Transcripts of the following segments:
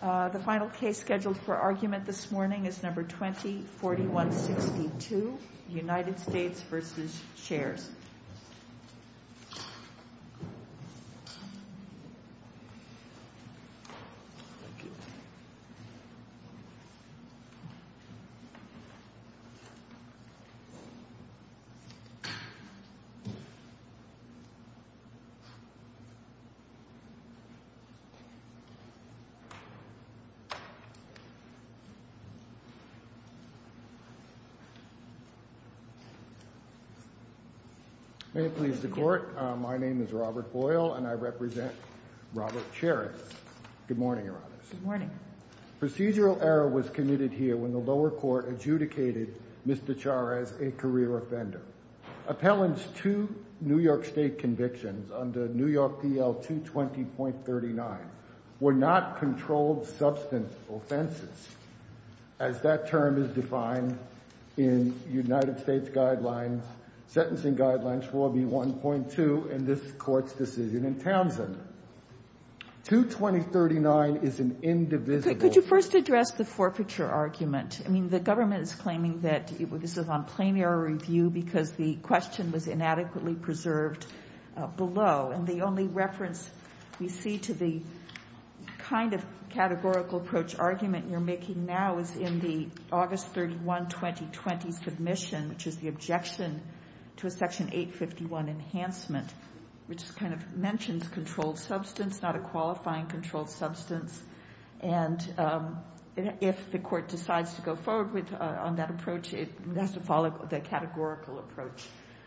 The final case scheduled for argument this morning is No. 20-4162, United States v. Chairs. Robert Boyle May it please the Court, my name is Robert Boyle and I represent Robert Chaires. Good morning, Your Honors. Good morning. Procedural error was committed here when the lower court adjudicated Mr. Chaires a career offender. Appellant's two New York State convictions under New York D.L. 220.39 were not controlled substance offenses. As that term is defined in United States Guidelines, Sentencing Guidelines 4B1.2 in this Court's decision in Townsend. 220.39 is an indivisible. Could you first address the forfeiture argument? I mean, the government is claiming that this is on plain error review because the question was inadequately preserved below. And the only reference we see to the kind of categorical approach argument you're making now is in the August 31, 2020 submission, which is the objection to a Section 851 enhancement, which kind of mentions controlled substance, not a qualifying controlled substance. And if the Court decides to go forward on that approach, it has to follow the categorical approach.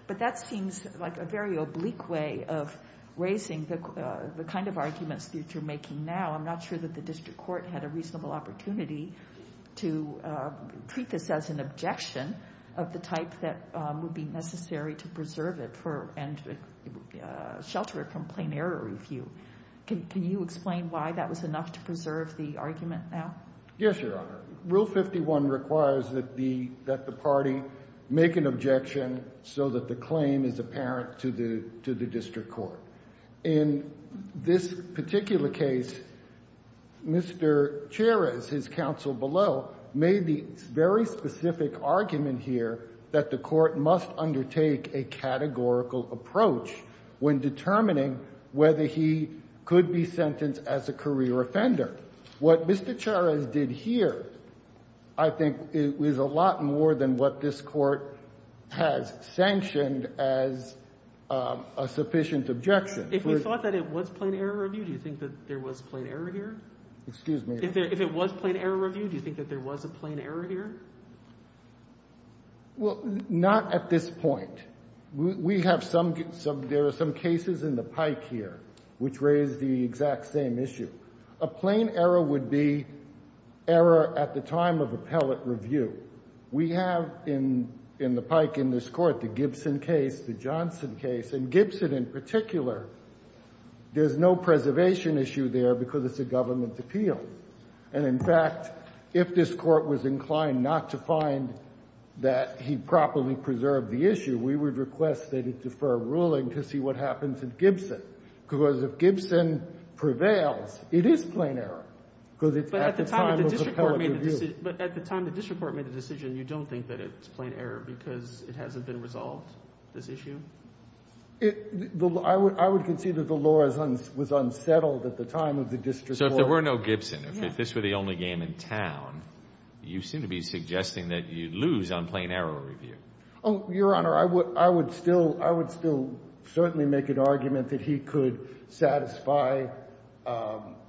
But that seems like a very oblique way of raising the kind of arguments that you're making now. I'm not sure that the district court had a reasonable opportunity to treat this as an objection of the type that would be necessary to preserve it and shelter it from plain error review. Can you explain why that was enough to preserve the argument now? Yes, Your Honor. Rule 51 requires that the party make an objection so that the claim is apparent to the district court. In this particular case, Mr. Charez, his counsel below, made the very specific argument here that the Court must undertake a categorical approach when determining whether he could be sentenced as a career offender. What Mr. Charez did here, I think, is a lot more than what this Court has sanctioned as a sufficient objection. If we thought that it was plain error review, do you think that there was plain error here? Excuse me? If it was plain error review, do you think that there was a plain error here? Well, not at this point. We have some – there are some cases in the pike here which raise the exact same issue. A plain error would be error at the time of appellate review. We have in the pike in this Court the Gibson case, the Johnson case, and Gibson in particular. There's no preservation issue there because it's a government appeal. And, in fact, if this Court was inclined not to find that he properly preserved the issue, we would request that it defer ruling to see what happens at Gibson. Because if Gibson prevails, it is plain error because it's at the time of appellate review. But at the time the district court made the decision, you don't think that it's plain error because it hasn't been resolved, this issue? I would concede that the law was unsettled at the time of the district court. So if there were no Gibson, if this were the only game in town, you seem to be suggesting that you'd lose on plain error review. Oh, Your Honor, I would still certainly make an argument that he could satisfy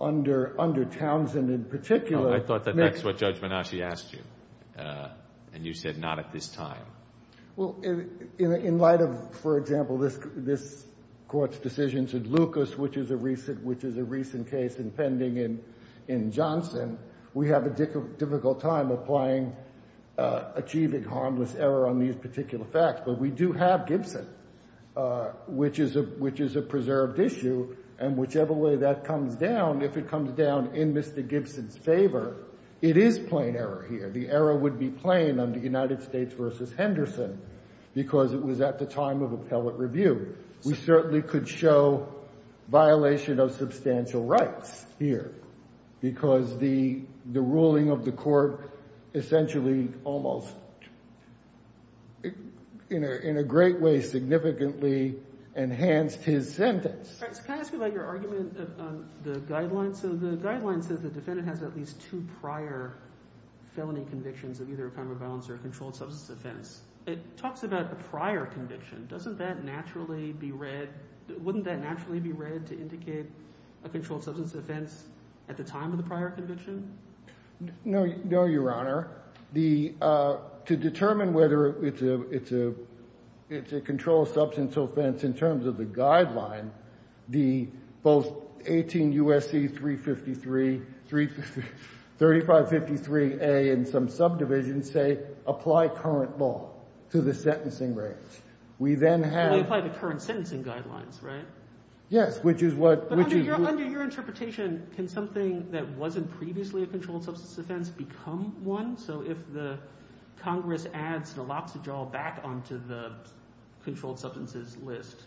under Townsend in particular. I thought that that's what Judge Menasche asked you, and you said not at this time. Well, in light of, for example, this Court's decision to Lucas, which is a recent case impending in Johnson, we have a difficult time applying, achieving harmless error on these particular facts. But we do have Gibson, which is a preserved issue, and whichever way that comes down, if it comes down in Mr. Gibson's favor, it is plain error here. The error would be plain under United States v. Henderson because it was at the time of appellate review. We certainly could show violation of substantial rights here because the ruling of the court essentially almost in a great way significantly enhanced his sentence. So can I ask you about your argument on the guidelines? So the guidelines says the defendant has at least two prior felony convictions of either a crime of violence or a controlled substance offense. It talks about a prior conviction. Doesn't that naturally be read? Wouldn't that naturally be read to indicate a controlled substance offense at the time of the prior conviction? No, Your Honor. To determine whether it's a controlled substance offense in terms of the guideline, both 18 U.S.C. 353A and some subdivisions say apply current law to the sentencing range. We then have We apply the current sentencing guidelines, right? Yes, which is what Under your interpretation, can something that wasn't previously a controlled substance offense become one? So if the Congress adds naloxone back onto the controlled substances list,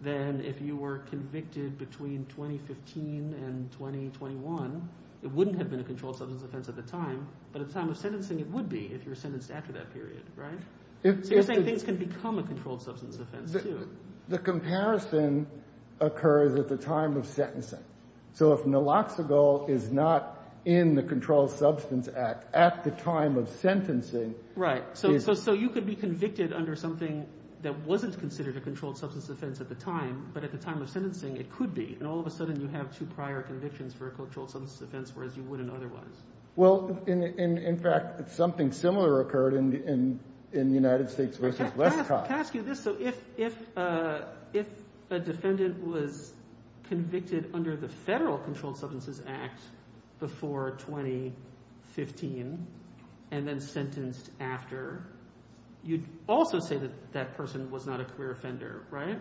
then if you were convicted between 2015 and 2021, it wouldn't have been a controlled substance offense at the time, but at the time of sentencing it would be if you were sentenced after that period, right? So you're saying things can become a controlled substance offense, too? The comparison occurs at the time of sentencing. So if naloxone is not in the Controlled Substance Act at the time of sentencing, Right. So you could be convicted under something that wasn't considered a controlled substance offense at the time, but at the time of sentencing it could be, and all of a sudden you have two prior convictions for a controlled substance offense whereas you wouldn't otherwise. Well, in fact, something similar occurred in the United States v. Westcott. Can I ask you this? So if a defendant was convicted under the Federal Controlled Substances Act before 2015 and then sentenced after, you'd also say that that person was not a career offender, right?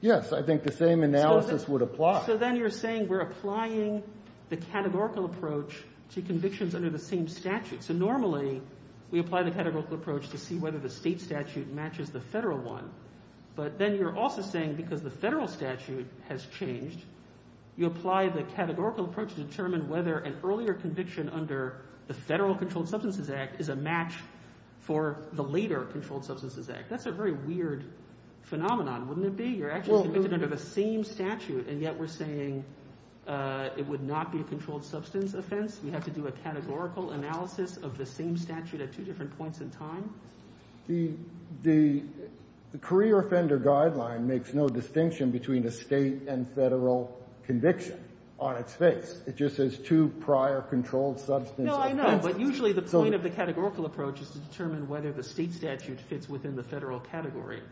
Yes, I think the same analysis would apply. So then you're saying we're applying the categorical approach to convictions under the same statute. So normally we apply the categorical approach to see whether the state statute matches the federal one, but then you're also saying because the federal statute has changed, you apply the categorical approach to determine whether an earlier conviction under the Federal Controlled Substances Act is a match for the later Controlled Substances Act. That's a very weird phenomenon, wouldn't it be? You're actually committed under the same statute, and yet we're saying it would not be a controlled substance offense. You have to do a categorical analysis of the same statute at two different points in time. The career offender guideline makes no distinction between a state and federal conviction on its face. It just says two prior controlled substance offenses. No, I know, but usually the point of the categorical approach is to determine whether the state statute fits within the federal category.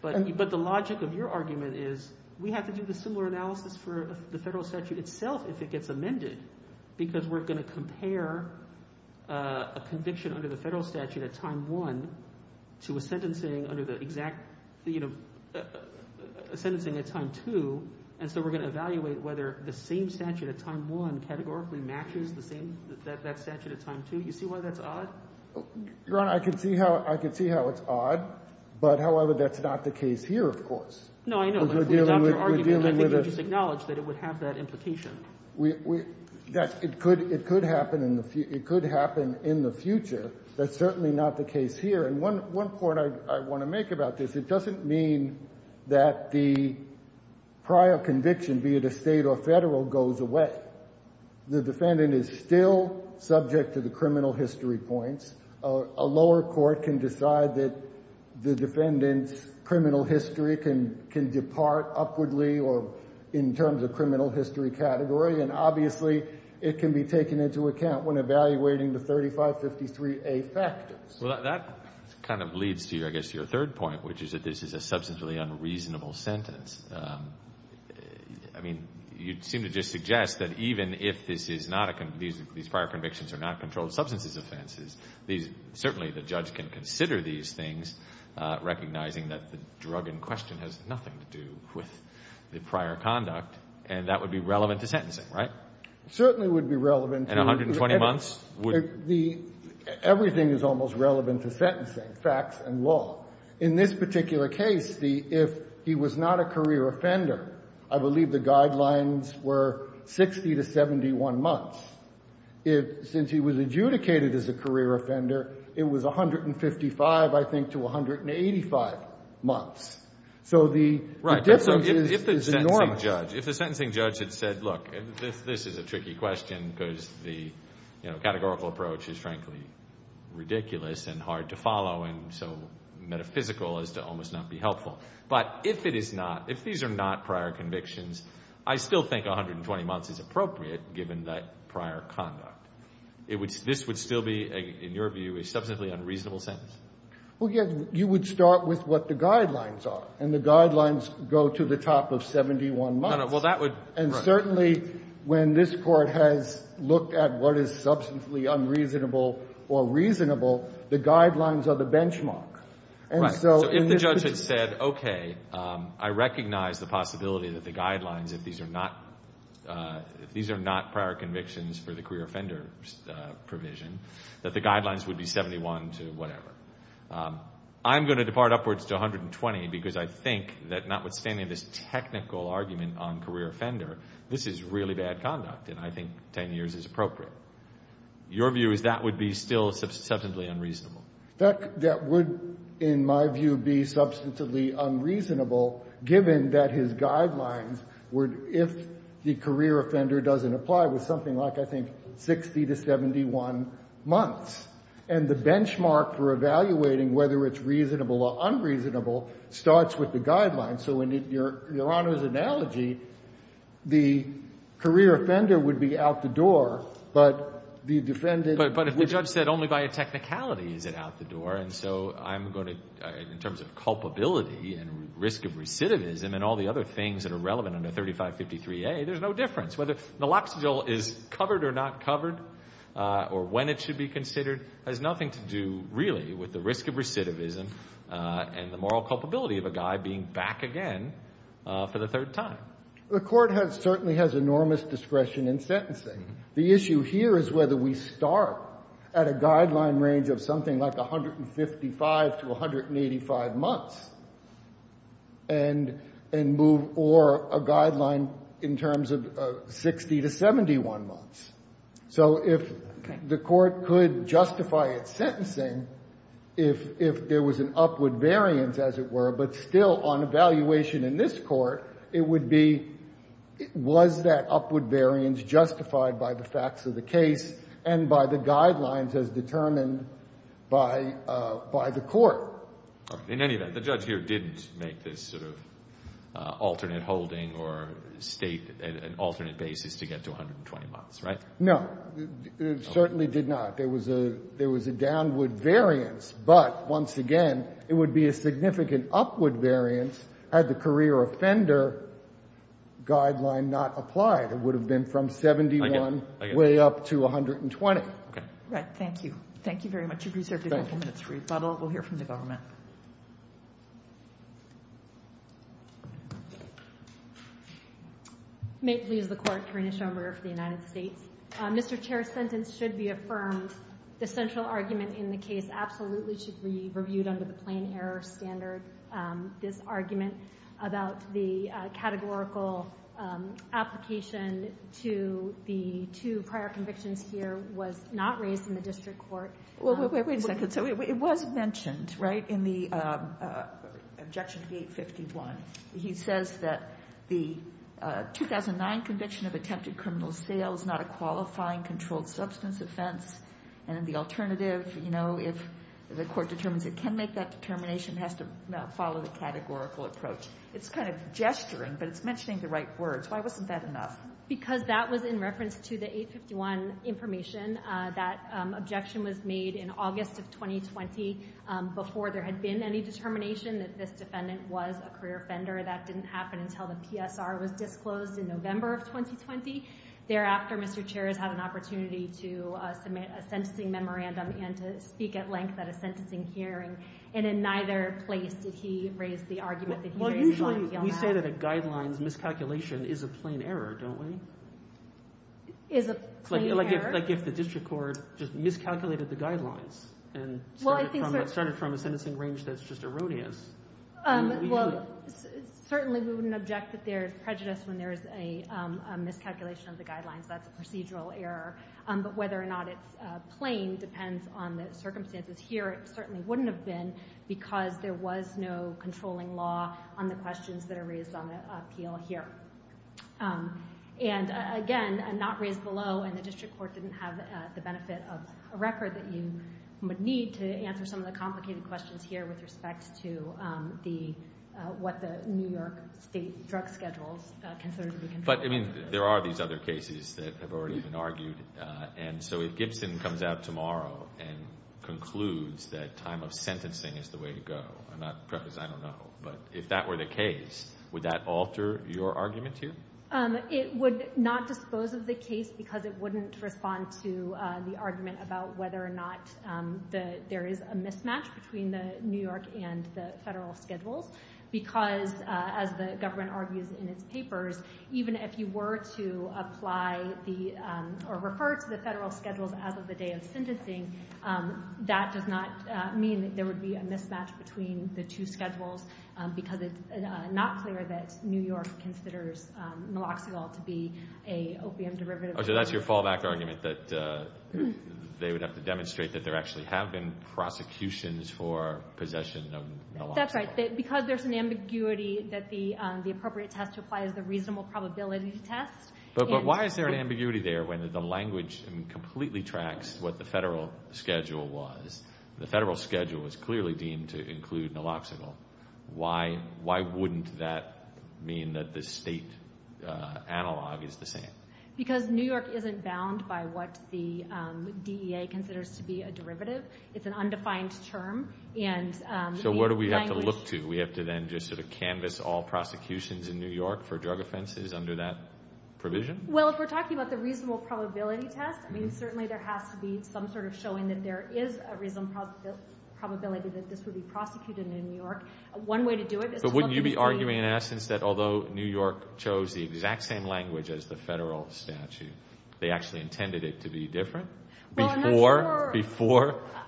But the logic of your argument is we have to do the similar analysis for the federal statute itself if it gets amended because we're going to compare a conviction under the federal statute at time one to a sentencing under the exact – a sentencing at time two, and so we're going to evaluate whether the same statute at time one categorically matches the same – that statute at time two. You see why that's odd? Your Honor, I can see how – I can see how it's odd, but, however, that's not the case here, of course. No, I know. If we adopt your argument, I think you just acknowledge that it would have that implication. We – it could happen in the – it could happen in the future. That's certainly not the case here. And one point I want to make about this, it doesn't mean that the prior conviction, be it a state or federal, goes away. The defendant is still subject to the criminal history points. A lower court can decide that the defendant's criminal history can depart upwardly or in terms of criminal history category, and obviously it can be taken into account when evaluating the 3553A factors. Well, that kind of leads to, I guess, your third point, which is that this is a substantially unreasonable sentence. I mean, you seem to just suggest that even if this is not a – these prior convictions are not controlled substances offenses, these – certainly the judge can consider these things, recognizing that the drug in question has nothing to do with the prior conduct, and that would be relevant to sentencing, right? It certainly would be relevant to – In 120 months? The – everything is almost relevant to sentencing, facts and law. In this particular case, the – if he was not a career offender, I believe the guidelines were 60 to 71 months. If – since he was adjudicated as a career offender, it was 155, I think, to 185 months. So the difference is enormous. Right. So if the sentencing judge – if the sentencing judge had said, look, this is a tricky question because the categorical approach is frankly ridiculous and hard to follow and so metaphysical as to almost not be helpful. But if it is not – if these are not prior convictions, I still think 120 months is appropriate given that prior conduct. It would – this would still be, in your view, a substantially unreasonable sentence? Well, yes. You would start with what the guidelines are, and the guidelines go to the top of 71 months. No, no. Well, that would – right. And certainly when this Court has looked at what is substantially unreasonable or reasonable, the guidelines are the benchmark. Right. And so in this case – So if the judge had said, okay, I recognize the possibility that the guidelines, if these are not – if these are not prior convictions for the career offender provision, that the guidelines would be 71 to whatever. I'm going to depart upwards to 120 because I think that notwithstanding this technical argument on career offender, this is really bad conduct, and I think 10 years is appropriate. Your view is that would be still substantively unreasonable? That would, in my view, be substantively unreasonable given that his guidelines would – if the career offender doesn't apply, was something like, I think, 60 to 71 months. And the benchmark for evaluating whether it's reasonable or unreasonable starts with the guidelines. So in Your Honor's analogy, the career offender would be out the door, but the defendant would be – But if the judge said only by a technicality is it out the door, and so I'm going to – in terms of culpability and risk of recidivism and all the other things that are relevant under 3553A, there's no difference. Whether naloxone is covered or not covered or when it should be considered has nothing to do really with the risk of recidivism and the moral culpability of a guy being back again for the third time. The Court has – certainly has enormous discretion in sentencing. The issue here is whether we start at a guideline range of something like 155 to 185 months and move – or a guideline in terms of 60 to 71 months. So if the Court could justify its sentencing if there was an upward variance, as it were, but still on evaluation in this Court, it would be – was that upward variance justified by the facts of the case and by the guidelines as determined by the Court? In any event, the judge here didn't make this sort of alternate holding or state an alternate basis to get to 120 months, right? No. It certainly did not. There was a downward variance. But, once again, it would be a significant upward variance had the career offender guideline not applied. It would have been from 71 way up to 120. Right. Thank you. Thank you very much. You've reserved a couple minutes for rebuttal. We'll hear from the government. May it please the Court. Karina Schomburger for the United States. Mr. Chair, sentence should be affirmed. The central argument in the case absolutely should be reviewed under the plain error standard. This argument about the categorical application to the two prior convictions here was not raised in the district court. Well, wait a second. So it was mentioned, right, in the objection to 851. He says that the 2009 conviction of attempted criminal sale is not a qualifying controlled substance offense, and the alternative, you know, if the court determines it can make that determination, has to follow the categorical approach. It's kind of gesturing, but it's mentioning the right words. Why wasn't that enough? Because that was in reference to the 851 information. That objection was made in August of 2020 before there had been any determination that this defendant was a career offender. That didn't happen until the PSR was disclosed in November of 2020. Thereafter, Mr. Chair has had an opportunity to submit a sentencing memorandum and to speak at length at a sentencing hearing, and in neither place did he raise the argument that he didn't want to deal with that. Well, usually we say that a guidelines miscalculation is a plain error, don't we? Is a plain error? Like if the district court just miscalculated the guidelines and started from a sentencing range that's just erroneous? Well, certainly we wouldn't object that there is prejudice when there is a miscalculation of the guidelines. That's a procedural error. But whether or not it's plain depends on the circumstances here. It certainly wouldn't have been because there was no controlling law on the questions that are raised on the appeal here. And again, not raised below, and the district court didn't have the benefit of a record that you would need to answer some of the complicated questions here with respect to what the New York state drug schedules consider to be controlling. But, I mean, there are these other cases that have already been argued. And so if Gibson comes out tomorrow and concludes that time of sentencing is the way to go, and that, perhaps, I don't know, but if that were the case, would that alter your argument too? It would not dispose of the case because it wouldn't respond to the argument about whether or not there is a mismatch between the New York and the federal schedules. Because, as the government argues in its papers, even if you were to apply or refer to the federal schedules as of the day of sentencing, that does not mean that there would be a mismatch between the two schedules because it's not clear that New York considers Naloxone to be an opium derivative. So that's your fallback argument that they would have to demonstrate that there actually have been prosecutions for possession of Naloxone. That's right. Because there's an ambiguity that the appropriate test to apply is the reasonable probability test. But why is there an ambiguity there when the language completely tracks what the federal schedule was? The federal schedule was clearly deemed to include Naloxone. Why wouldn't that mean that the state analog is the same? Because New York isn't bound by what the DEA considers to be a derivative. It's an undefined term. So what do we have to look to? We have to then just sort of canvas all prosecutions in New York for drug offenses under that provision? Well, if we're talking about the reasonable probability test, I mean, certainly there has to be some sort of showing that there is a reasonable probability that this would be prosecuted in New York. One way to do it is to look at the— But wouldn't you be arguing, in essence, that although New York chose the exact same language as the federal statute, they actually intended it to be different before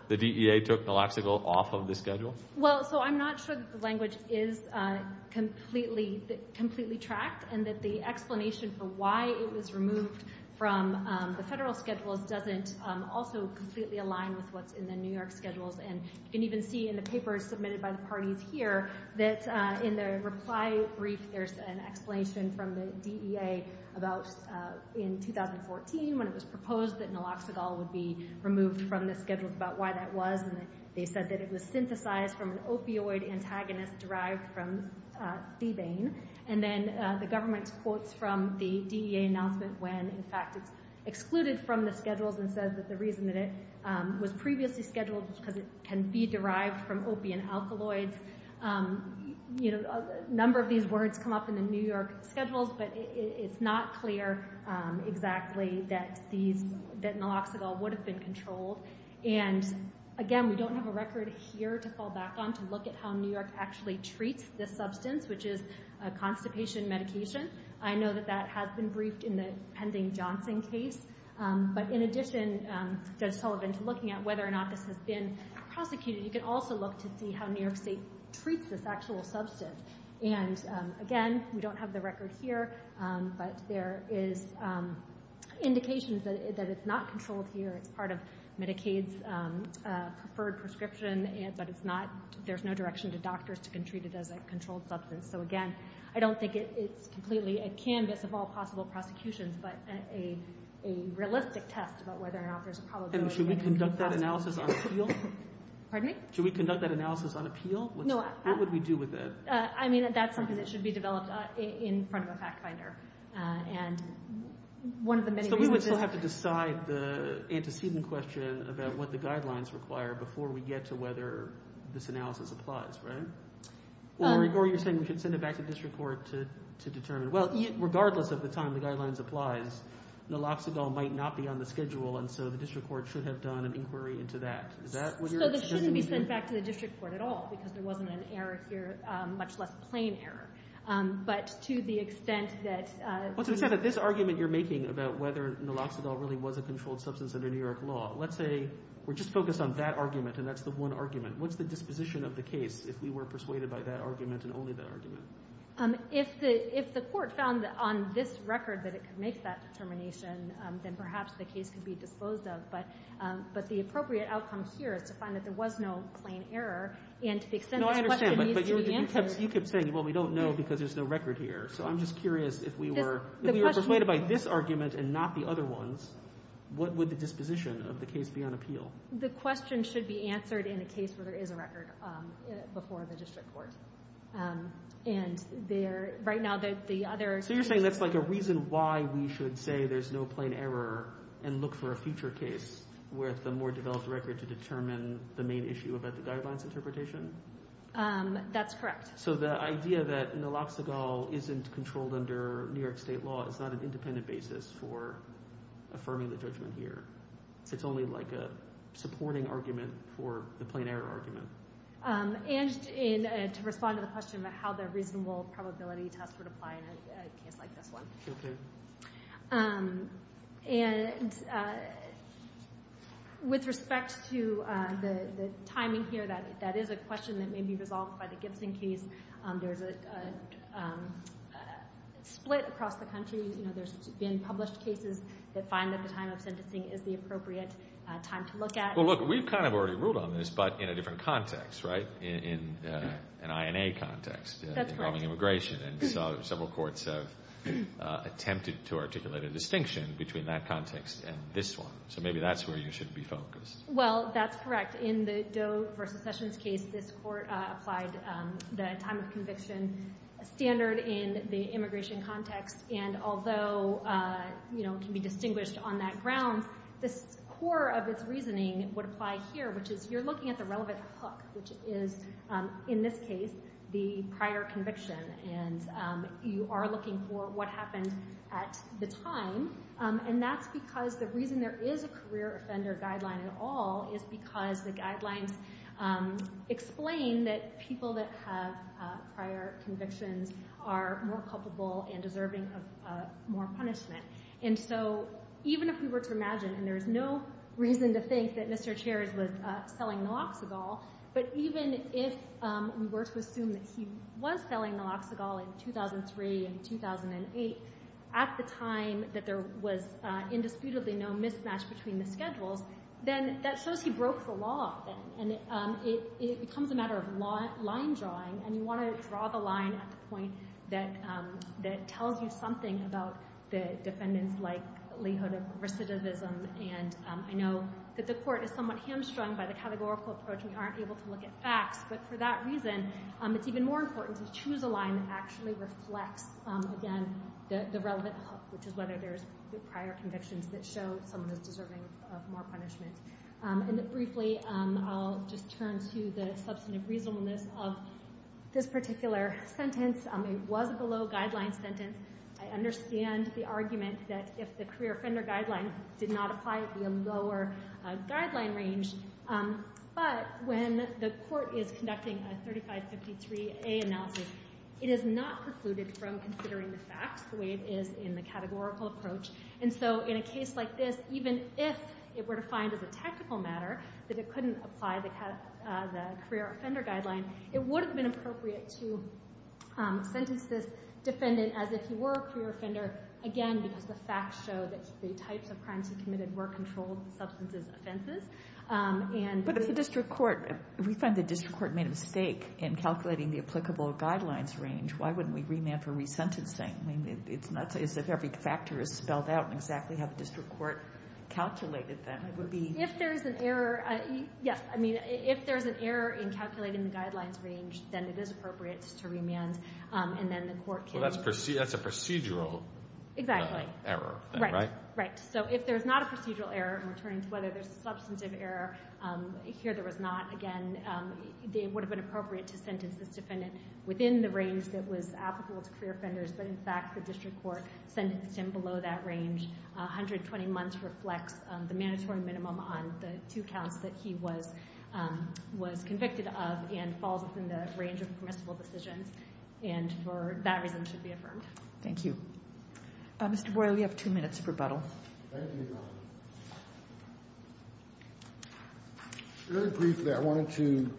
the DEA took Naloxone off of the schedule? Well, so I'm not sure that the language is completely tracked and that the explanation for why it was removed from the federal schedules doesn't also completely align with what's in the New York schedules. And you can even see in the papers submitted by the parties here that in the reply brief, there's an explanation from the DEA about in 2014 when it was proposed that Naloxogol would be removed from the schedule, about why that was. And they said that it was synthesized from an opioid antagonist derived from Thebane. And then the government quotes from the DEA announcement when, in fact, it's excluded from the schedules and says that the reason that it was previously scheduled was because it can be derived from opiate alkaloids. A number of these words come up in the New York schedules, but it's not clear exactly that Naloxogol would have been controlled. And again, we don't have a record here to fall back on to look at how New York actually treats this substance, which is a constipation medication. I know that that has been briefed in the pending Johnson case. But in addition, Judge Sullivan, to looking at whether or not this has been prosecuted, you can also look to see how New York State treats this actual substance. And again, we don't have the record here, but there is indication that it's not controlled here. It's part of Medicaid's preferred prescription, but there's no direction to doctors to treat it as a controlled substance. So, again, I don't think it's completely a canvas of all possible prosecutions, but a realistic test about whether or not there's a problem. And should we conduct that analysis on appeal? Pardon me? Should we conduct that analysis on appeal? What would we do with it? I mean, that's something that should be developed in front of a fact finder. So we would still have to decide the antecedent question about what the guidelines require before we get to whether this analysis applies, right? Or you're saying we should send it back to district court to determine. Well, regardless of the time the guidelines applies, naloxidil might not be on the schedule, and so the district court should have done an inquiry into that. So this shouldn't be sent back to the district court at all, because there wasn't an error here, much less plain error. But to the extent that— But to the extent that this argument you're making about whether naloxidil really was a controlled substance under New York law, let's say we're just focused on that argument and that's the one argument, what's the disposition of the case if we were persuaded by that argument and only that argument? If the court found on this record that it could make that determination, then perhaps the case could be disposed of. But the appropriate outcome here is to find that there was no plain error, and to the extent this question needs to be answered— No, I understand, but you kept saying, well, we don't know because there's no record here. So I'm just curious if we were— If we were persuaded by this argument and not the other ones, what would the disposition of the case be on appeal? The question should be answered in a case where there is a record before the district court. And right now the other— So you're saying that's like a reason why we should say there's no plain error and look for a future case with a more developed record to determine the main issue about the guidelines interpretation? That's correct. So the idea that naloxonol isn't controlled under New York State law is not an independent basis for affirming the judgment here. It's only like a supporting argument for the plain error argument. And to respond to the question about how the reasonable probability test would apply in a case like this one. Okay. And with respect to the timing here, that is a question that may be resolved by the Gibson case. There's a split across the country. You know, there's been published cases that find that the time of sentencing is the appropriate time to look at. Well, look, we've kind of already ruled on this, but in a different context, right? In an INA context. That's right. And several courts have attempted to articulate a distinction between that context and this one. So maybe that's where you should be focused. Well, that's correct. In the Doe v. Sessions case, this court applied the time of conviction standard in the immigration context. And although, you know, it can be distinguished on that ground, this core of its reasoning would apply here, which is you're looking at the relevant hook, which is, in this case, the prior conviction. And you are looking for what happened at the time. And that's because the reason there is a career offender guideline at all is because the guidelines explain that people that have prior convictions are more culpable and deserving of more punishment. And so even if we were to imagine, and there's no reason to think that Mr. Chares was selling Naloxonol, but even if we were to assume that he was selling Naloxonol in 2003 and 2008, at the time that there was indisputably no mismatch between the schedules, then that shows he broke the law. And it becomes a matter of line drawing. And you want to draw the line at the point that tells you something about the defendant's likelihood of recidivism. And I know that the court is somewhat hamstrung by the categorical approach. We aren't able to look at facts. But for that reason, it's even more important to choose a line that actually reflects, again, the relevant hook, which is whether there's prior convictions that show someone is deserving of more punishment. And briefly, I'll just turn to the substantive reasonableness of this particular sentence. It was a below-guideline sentence. I understand the argument that if the career offender guideline did not apply, it would be a lower guideline range. But when the court is conducting a 3553A analysis, it is not precluded from considering the facts the way it is in the categorical approach. And so in a case like this, even if it were defined as a tactical matter, that it couldn't apply the career offender guideline, it would have been appropriate to sentence this defendant as if he were a career offender, again, because the facts show that the types of crimes he committed were controlled substances offenses. But if the district court – if we find the district court made a mistake in calculating the applicable guidelines range, why wouldn't we remand for resentencing? I mean, it's not as if every factor is spelled out exactly how the district court calculated them. It would be – If there is an error – yes, I mean, if there is an error in calculating the guidelines range, then it is appropriate to remand, and then the court can – Well, that's a procedural – Exactly. – error thing, right? Right, right. So if there's not a procedural error, and we're turning to whether there's a substantive error, here there was not. Again, it would have been appropriate to sentence this defendant within the range that was applicable to career offenders. But, in fact, the district court sentenced him below that range. 120 months reflects the mandatory minimum on the two counts that he was convicted of and falls within the range of permissible decisions, and for that reason should be affirmed. Thank you. Mr. Boyle, you have two minutes of rebuttal. Thank you, Your Honor. Very briefly, I wanted to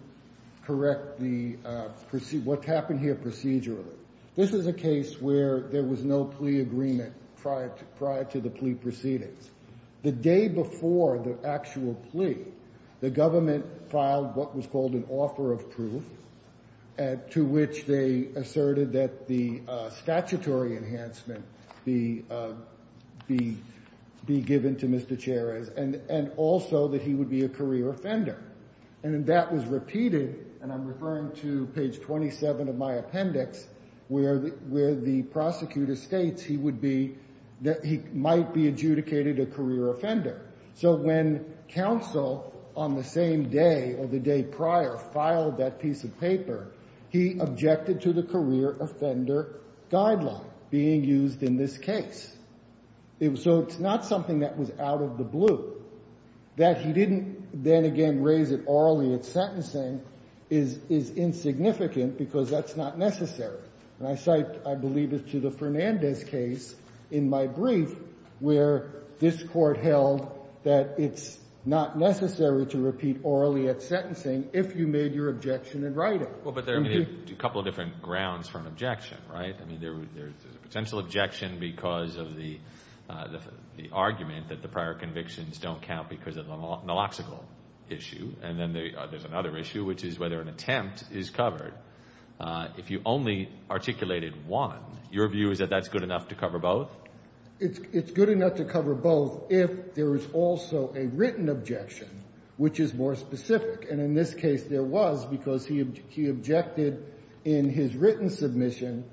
correct the – what's happened here procedurally. This is a case where there was no plea agreement prior to the plea proceedings. The day before the actual plea, the government filed what was called an offer of proof to which they asserted that the statutory enhancement be given to Mr. Cherez and also that he would be a career offender. And that was repeated, and I'm referring to page 27 of my appendix, where the prosecutor states he would be – that he might be adjudicated a career offender. So when counsel on the same day or the day prior filed that piece of paper, he objected to the career offender guideline being used in this case. So it's not something that was out of the blue. That he didn't then again raise it orally at sentencing is insignificant because that's not necessary. And I cite, I believe, it's to the Fernandez case in my brief where this Court held that it's not necessary to repeat orally at sentencing if you made your objection in writing. Well, but there are a couple of different grounds for an objection, right? I mean, there's a potential objection because of the argument that the prior convictions don't count because of the nulloxical issue. And then there's another issue, which is whether an attempt is covered. If you only articulated one, your view is that that's good enough to cover both? It's good enough to cover both if there is also a written objection, which is more specific. And in this case, there was because he objected in his written submission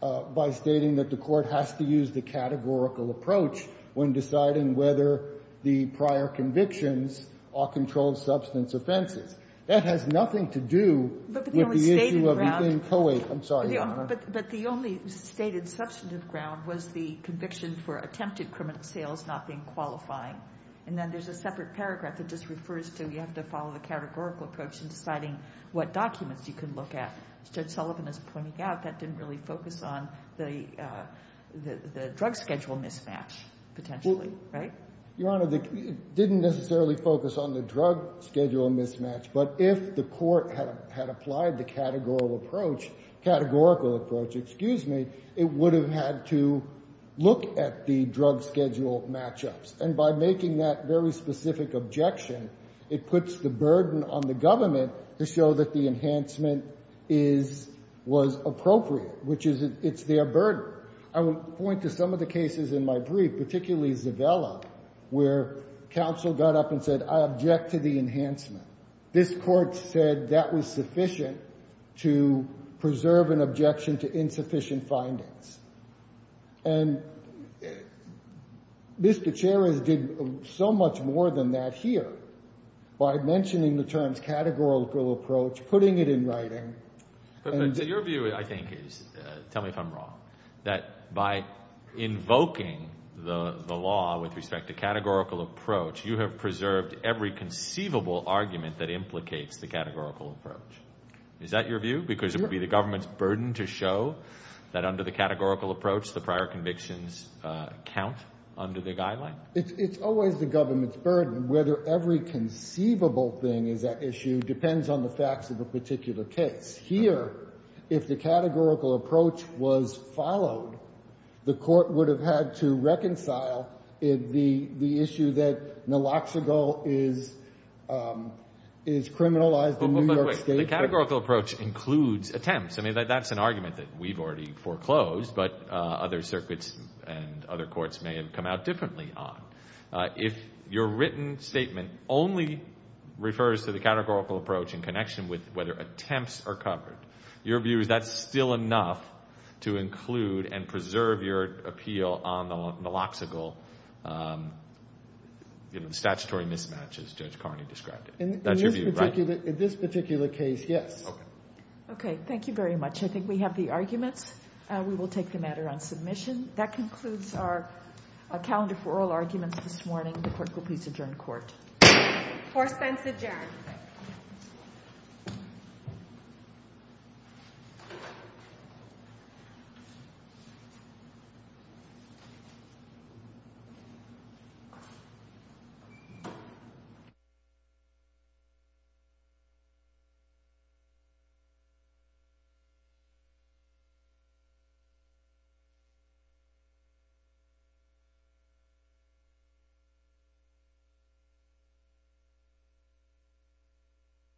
by stating that the Court has to use the categorical approach when deciding whether the prior convictions are controlled substance offenses. That has nothing to do with the issue of being co-ed. I'm sorry. But the only stated substantive ground was the conviction for attempted criminal sales not being qualifying. And then there's a separate paragraph that just refers to you have to follow the categorical approach in deciding what documents you can look at. Judge Sullivan is pointing out that didn't really focus on the drug schedule mismatch potentially, right? Your Honor, it didn't necessarily focus on the drug schedule mismatch. But if the Court had applied the categorical approach, it would have had to look at the drug schedule match-ups. And by making that very specific objection, it puts the burden on the government to show that the enhancement is or was appropriate, which is it's their burden. I will point to some of the cases in my brief, particularly Zavella, where counsel got up and said, I object to the enhancement. This Court said that was sufficient to preserve an objection to insufficient findings. And Ms. Gutierrez did so much more than that here by mentioning the terms categorical approach, putting it in writing. But your view, I think, is, tell me if I'm wrong, that by invoking the law with respect to categorical approach, you have preserved every conceivable argument that implicates the categorical approach. Is that your view? Because it would be the government's burden to show that under the categorical approach, the prior convictions count under the guideline? It's always the government's burden. Whether every conceivable thing is at issue depends on the facts of the particular case. Here, if the categorical approach was followed, the Court would have had to reconcile the issue that Naloxone is criminalized in New York State. The categorical approach includes attempts. I mean, that's an argument that we've already foreclosed, but other circuits and other courts may have come out differently on. If your written statement only refers to the categorical approach in connection with whether attempts are covered, your view is that's still enough to include and preserve your appeal on the Naloxone statutory mismatch, as Judge Carney described it. That's your view, right? In this particular case, yes. Okay. Thank you very much. I think we have the arguments. We will take the matter on submission. That concludes our calendar for oral arguments this morning. The Court will please adjourn the Court. The Court is adjourned. Thank you.